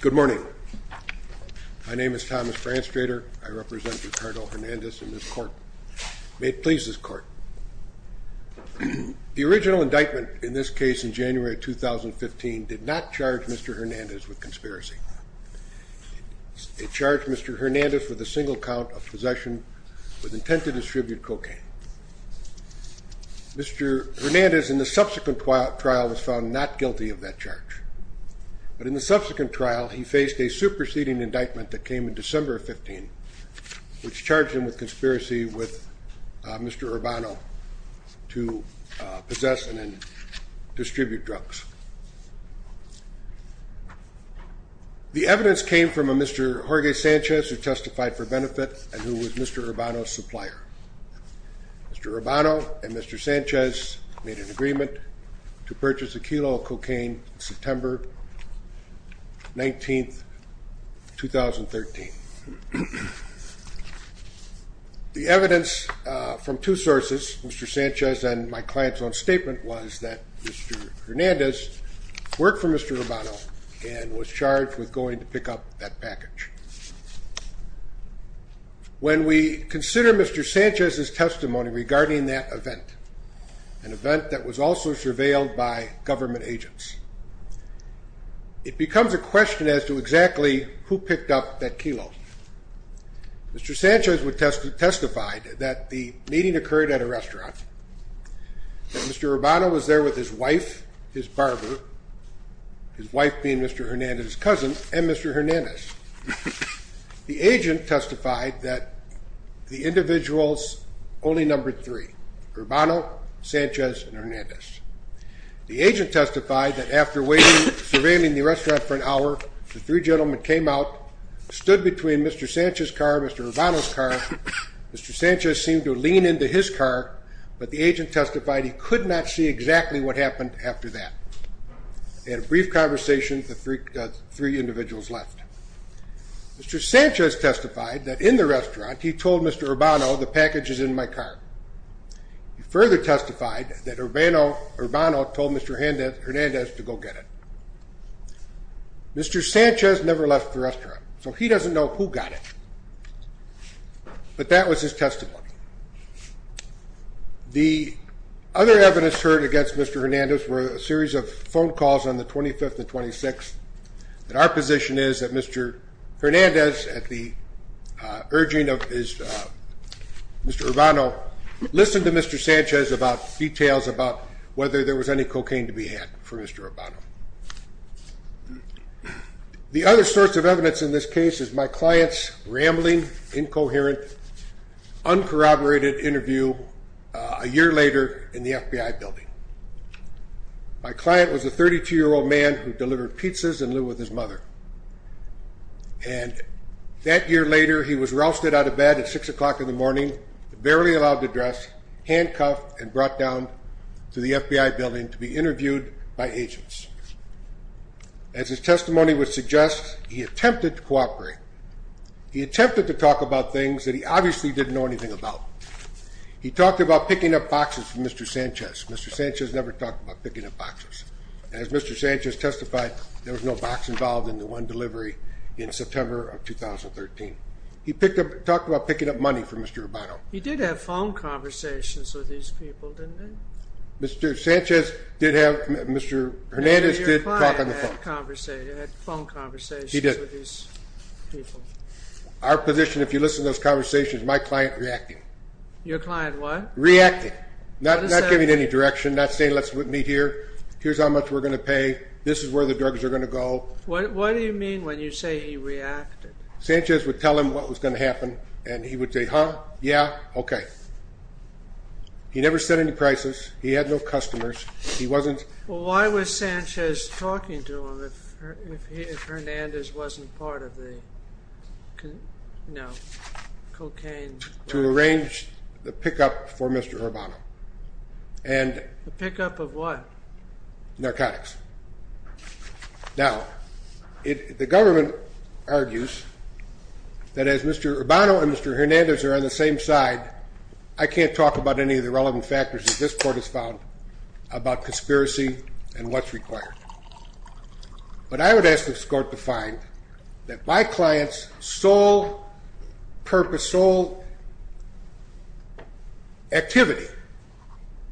Good morning. My name is Thomas Branstrader. I represent Ricardo Hernandez in this court. May it please this court. The original indictment in this case in January 2015 did not charge Mr. Hernandez with conspiracy. It charged Mr. Hernandez with a single count of possession with intent to distribute cocaine. Mr. Hernandez in the subsequent trial was found not guilty of that charge. But in the subsequent trial he faced a superseding indictment that came in December of 15 which charged him with conspiracy with Mr. Urbano to possess and distribute drugs. The evidence came from a Mr. Jorge Sanchez who testified for benefit and who was Mr. Urbano's supplier. Mr. Urbano and Mr. Sanchez made an agreement to purchase a kilo of cocaine September 19, 2013. The evidence from two sources, Mr. Sanchez and my client's own statement was that Mr. Hernandez worked for Mr. Urbano and was charged with going to pick up that package. When we consider Mr. Sanchez's testimony regarding that event, an event that was also surveilled by government agents, it becomes a question as to exactly who picked up that kilo. Mr. Sanchez testified that the meeting occurred at a restaurant. Mr. Urbano was there with his wife, his barber, his wife being Mr. Hernandez's cousin, and Mr. Hernandez. The agent testified that the individuals only numbered three, Urbano, Sanchez, and Hernandez. The agent testified that after waiting, surveilling the restaurant for an hour, the three gentlemen came out, stood between Mr. Sanchez's car, Mr. Urbano's car, Mr. Sanchez seemed to lean into his car, but the agent testified he could not see exactly what happened after that. In a brief conversation, the three individuals left. Mr. Sanchez testified that in the restaurant, he told Mr. Urbano the package is in my car. He further testified that Urbano Urbano told Mr. Hernandez to go get it. Mr. Sanchez never left the restaurant, so he doesn't know who got it, but that was his testimony. The other evidence heard against Mr. Hernandez were a series of phone calls on the 25th and the 26th, and our position is that Mr. Hernandez, at the urging of Mr. Urbano, listened to Mr. Sanchez about details about whether there was any cocaine to be had for Mr. Urbano. The other source of evidence in this case is my client's rambling, incoherent, uncorroborated interview a year later in the FBI building. My client was a 32-year-old man who delivered pizzas and lived with his mother, and that year later, he was rousted out of bed at six o'clock in the morning, barely allowed to dress, handcuffed, and brought down to the FBI building to be interviewed by agents. As his testimony would suggest, he attempted to cooperate. He attempted to talk about things that he obviously didn't know anything about. He talked about picking up boxes from Mr. Sanchez. Mr. Sanchez never talked about picking up boxes, and as Mr. Sanchez testified, there was no box involved in the one delivery in September of 2013. He talked about picking up money from Mr. Urbano. He did have phone conversations with these people, didn't he? Mr. Hernandez did talk on the phone. He did. Our position, if you listen to those things, is that he was reacting. Your client what? Reacting, not giving any direction, not saying, let's meet here, here's how much we're going to pay, this is where the drugs are going to go. What do you mean when you say he reacted? Sanchez would tell him what was going to happen, and he would say, huh, yeah, okay. He never said any prices. He had no customers. He wasn't... Well, why was Sanchez talking to him if he was going to make a deal? Well, he was going to make a deal with the police to arrange the pickup for Mr. Urbano. The pickup of what? Narcotics. Now, the government argues that as Mr. Urbano and Mr. Hernandez are on the same side, I can't talk about any of the relevant factors that this court has found about conspiracy and what's required. But I would ask this court to find that my activity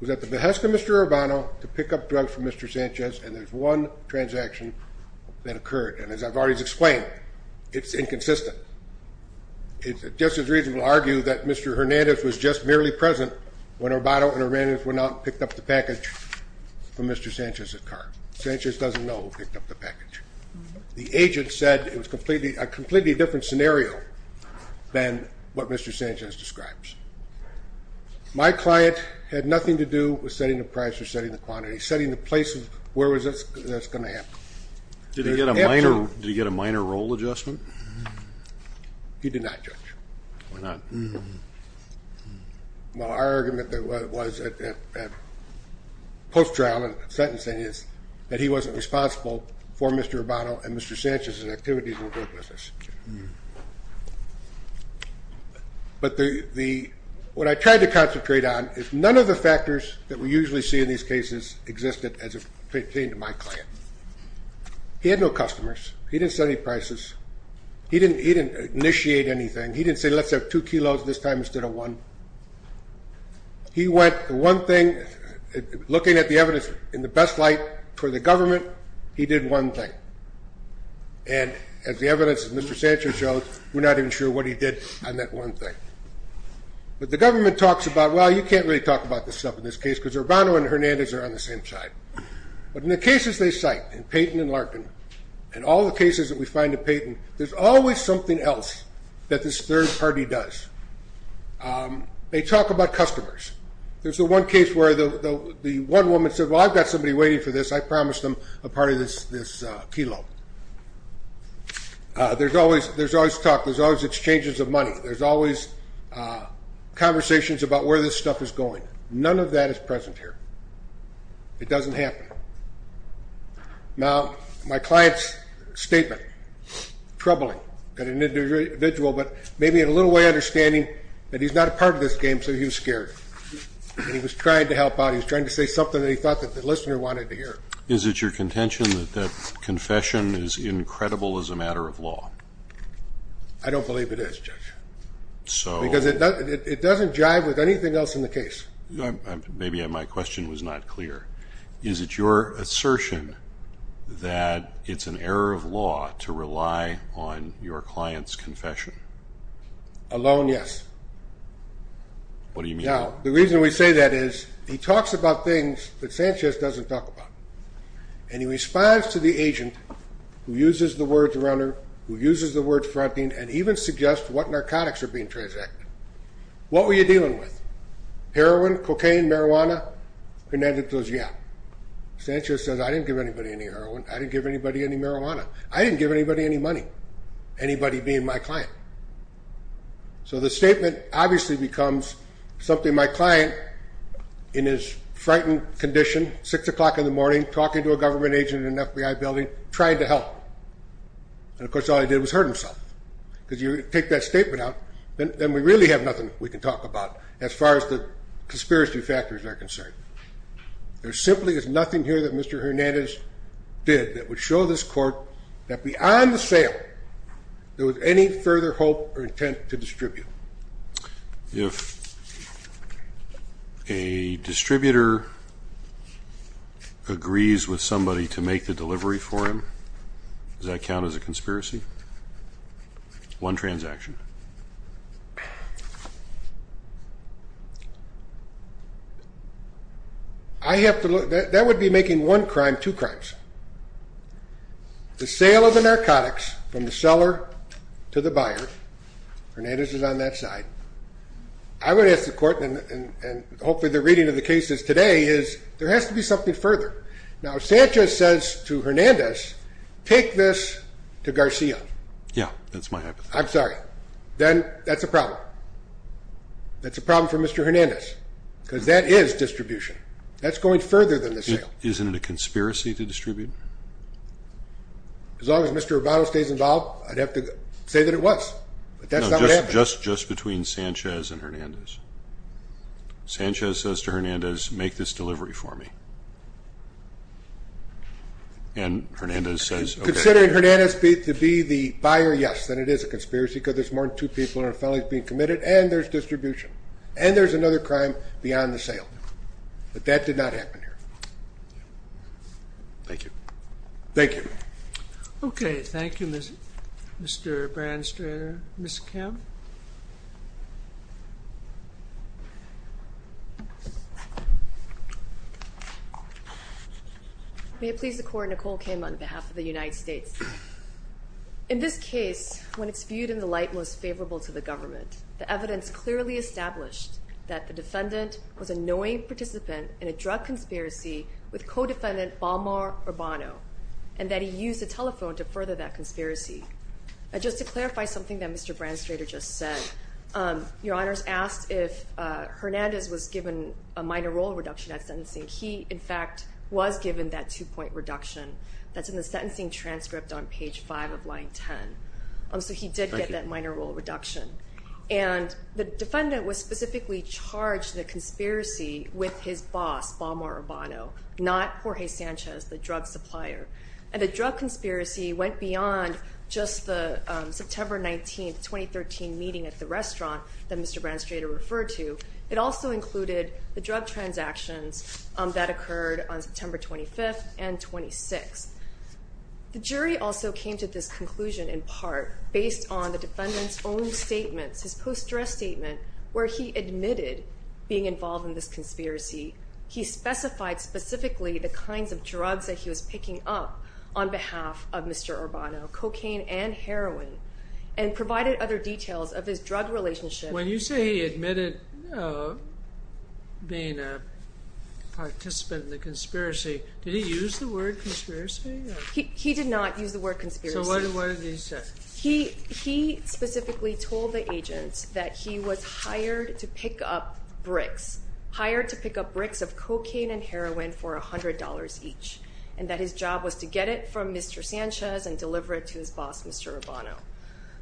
was at the behest of Mr. Urbano to pick up drugs from Mr. Sanchez, and there's one transaction that occurred. And as I've already explained, it's inconsistent. It's just as reasonable to argue that Mr. Hernandez was just merely present when Urbano and Hernandez went out and picked up the package from Mr. Sanchez's car. Sanchez doesn't know who picked up the package. The agent said it was a completely different scenario than what Mr. Sanchez describes. My client had nothing to do with setting the price or setting the quantity, setting the place of where that's going to happen. Did he get a minor role adjustment? He did not, Judge. Why not? Well, our argument that was at post-trial sentencing is that he wasn't responsible for Mr. Urbano and Mr. Sanchez's activities in the drug business. But what I tried to concentrate on is none of the factors that we usually see in these cases existed as it pertained to my client. He had no customers. He didn't set any prices. He didn't initiate anything. He didn't say, let's have two kilos this time instead of one. He went, the one thing, looking at the evidence in the best light for the government, he did one thing. And as the evidence of Mr. Sanchez showed, we're not even sure what he did on that one thing. But the government talks about, well, you can't really talk about this stuff in this case because Urbano and Hernandez are on the same side. But in the cases they cite, in Payton and Larkin, and all the cases that we find in Payton, there's always something else that this third party does. They talk about customers. There's the one case where the one woman said, well, I've got somebody waiting for this. I promised them a part of this kilo. There's always talk. There's always exchanges of money. There's always conversations about where this stuff is going. None of that is present here. It doesn't happen. Now, my client's statement, troubling. Got an individual, but maybe in a little way understanding that he's not a part of this game, so he was scared. And he was trying to help out. He was trying to say something that he thought that the listener wanted to hear. Is it your contention that confession is incredible as a matter of law? I don't believe it is, Judge. Because it doesn't jive with anything else in the case. Maybe my question was not clear. Is it your assertion that it's an error of law to rely on your client's confession? Alone, yes. What do you mean? Now, the reason we say that is, he talks about things that Sanchez doesn't talk about. And he responds to the agent who uses the words runner, who uses the word fronting, and even suggests what narcotics are being transacted. What were you dealing with? Heroin, cocaine, marijuana? Hernandez goes, yeah. Sanchez says, I didn't give anybody any heroin. I didn't give anybody any marijuana. I didn't give anybody any client. So the statement obviously becomes something my client, in his frightened condition, six o'clock in the morning, talking to a government agent in an FBI building, trying to help. And, of course, all he did was hurt himself. Because you take that statement out, then we really have nothing we can talk about, as far as the conspiracy factors are concerned. There simply is nothing here that Mr. Hernandez did that would show this sale. There was any further hope or intent to distribute. If a distributor agrees with somebody to make the delivery for him, does that count as a conspiracy? One transaction. I have to look... That would be making one crime, two crimes. The sale of the narcotics from the seller to the buyer. Hernandez is on that side. I would ask the court, and hopefully the reading of the case is today, is there has to be something further. Now, Sanchez says to Hernandez, take this to Garcia. Yeah, that's my hypothesis. I'm sorry. Then that's a problem. That's a problem for Mr. Hernandez. Because that is distribution. That's going further than the sale. Isn't it a conspiracy to distribute? As long as Mr. Urbano stays involved, I'd have to say that it was. But that's not what happened. No, just between Sanchez and Hernandez. Sanchez says to Hernandez, make this delivery for me. And Hernandez says... Considering Hernandez to be the buyer, yes, then it is a conspiracy, because there's more than two people in our felonies being committed, and there's distribution. And there's another crime beyond the sale. But that did not happen here. Thank you. Thank you. Okay, thank you, Mr. Branstader. Ms. Kim. May it please the court, Nicole Kim on behalf of the United States. In this case, when it's viewed in the light most favorable to the government, the evidence clearly established that the defendant was a knowing participant in a drug conspiracy with co defendant, Balmar Urbano, and that he used the telephone to further that conspiracy. Just to clarify something that Mr. Branstader just said. Your Honor's asked if Hernandez was given a minor role reduction at sentencing. He, in fact, was given that two point reduction that's in the sentencing transcript on page five of line 10. So he did get that minor role reduction. And the defendant was specifically charged the conspiracy with his boss, Balmar Urbano, not Jorge Sanchez, the drug supplier. And the drug conspiracy went beyond just the September 19th, 2013 meeting at the restaurant that Mr. Branstader referred to. It also included the drug transactions that occurred on September 25th and 26th. The jury also came to this conclusion in part based on the defendant's own statements, his post dress statement, where he admitted being involved in this conspiracy. He specified specifically the kinds of drugs that he was picking up on behalf of Mr. Urbano, cocaine and heroin, and provided other details of his drug relationship. When you say he admitted being a participant in the conspiracy, did he use the word conspiracy? He did not use the word conspiracy. So what did he say? He specifically told the agent that he was hired to pick up bricks, hired to pick up bricks of cocaine and heroin for $100 each, and that his job was to get it from Mr. Sanchez and deliver it to his boss, Mr. Urbano.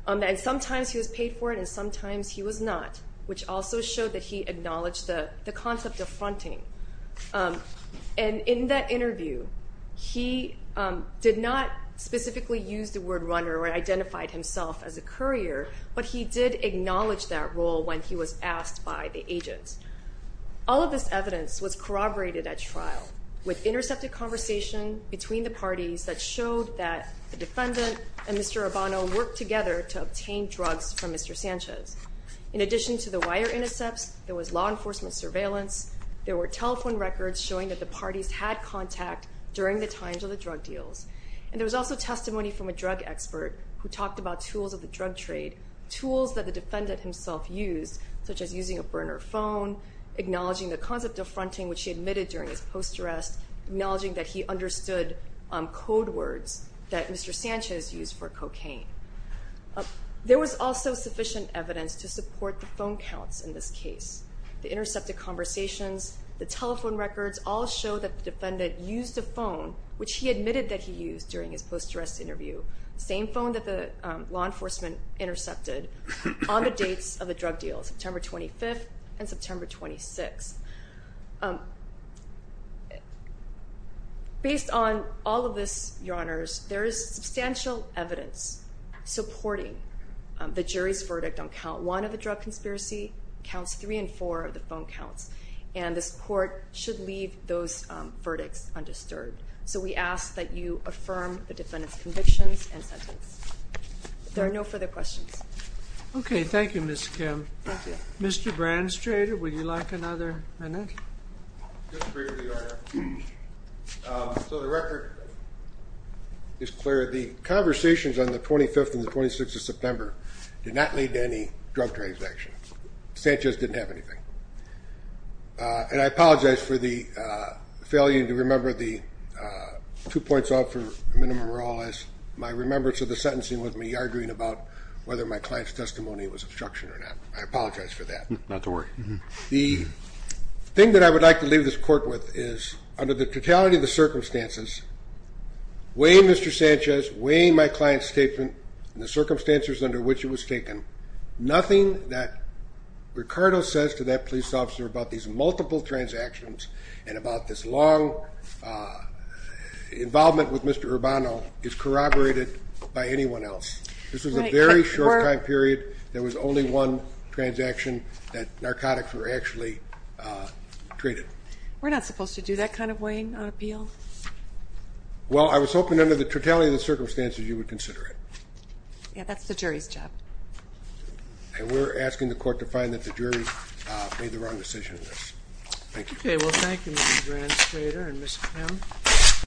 And sometimes he was paid for it, and sometimes he was not, which also showed that he acknowledged the concept of fronting. And in that interview, he did not specifically use the word runner or identified himself as a courier, but he did acknowledge that role when he was asked by the agent. All of this evidence was corroborated at trial with intercepted conversation between the parties that showed that the defendant and Mr. Urbano worked together to obtain drugs from Mr. Sanchez. In addition to the wire intercepts, there was law enforcement surveillance, there were telephone records showing that the parties had contact during the times of the drug deals, and there was also testimony from a drug expert who talked about tools of the drug trade, tools that the defendant himself used, such as using a burner phone, acknowledging the concept of fronting, which he admitted during his post arrest, acknowledging that he understood code words that Mr. Sanchez used for cocaine. There was also sufficient evidence to support the phone counts in this case. The intercepted conversations, the telephone records, all show that the defendant used a phone, which he admitted that he used during his post arrest interview. Same phone that the law enforcement intercepted on the dates of the drug deal, September 25th and September 26th. Based on all of this, your honors, there is substantial evidence supporting the jury's verdict on count one of the drug conspiracy, counts three and four of the phone counts, and this court should leave those verdicts undisturbed. So we ask that you affirm the defendant's convictions and sentence. There are no further questions. Okay, thank you, Ms. Kim. Thank you. Mr. Branstrader, would you like another minute? Just briefly, your honor. So the record is clear. The conversations on the 25th and the 26th of September did not lead to any drug transaction. Sanchez didn't have anything. And I apologize for the failure to remember the two points off for minimum role as my remembrance of the sentencing with me arguing about whether my client's testimony was obstruction or not. I apologize for that. Not to worry. The thing that I would like to leave this court with is, under the totality of the circumstances, weighing Mr. Sanchez, weighing my client's statement and the circumstances under which it was taken, nothing that Ricardo says to that police officer about these multiple transactions and about this long involvement with Mr. Urbano is corroborated by anyone else. This was a very short time period. There was only one transaction that narcotics were actually traded. We're not supposed to do that kind of weighing on appeal. Well, I was hoping under the totality of the circumstances, you would consider it. Yeah, that's the jury's job. And we're asking the court to find that the jury made the wrong decision. Thank you. Okay. Well, thank you.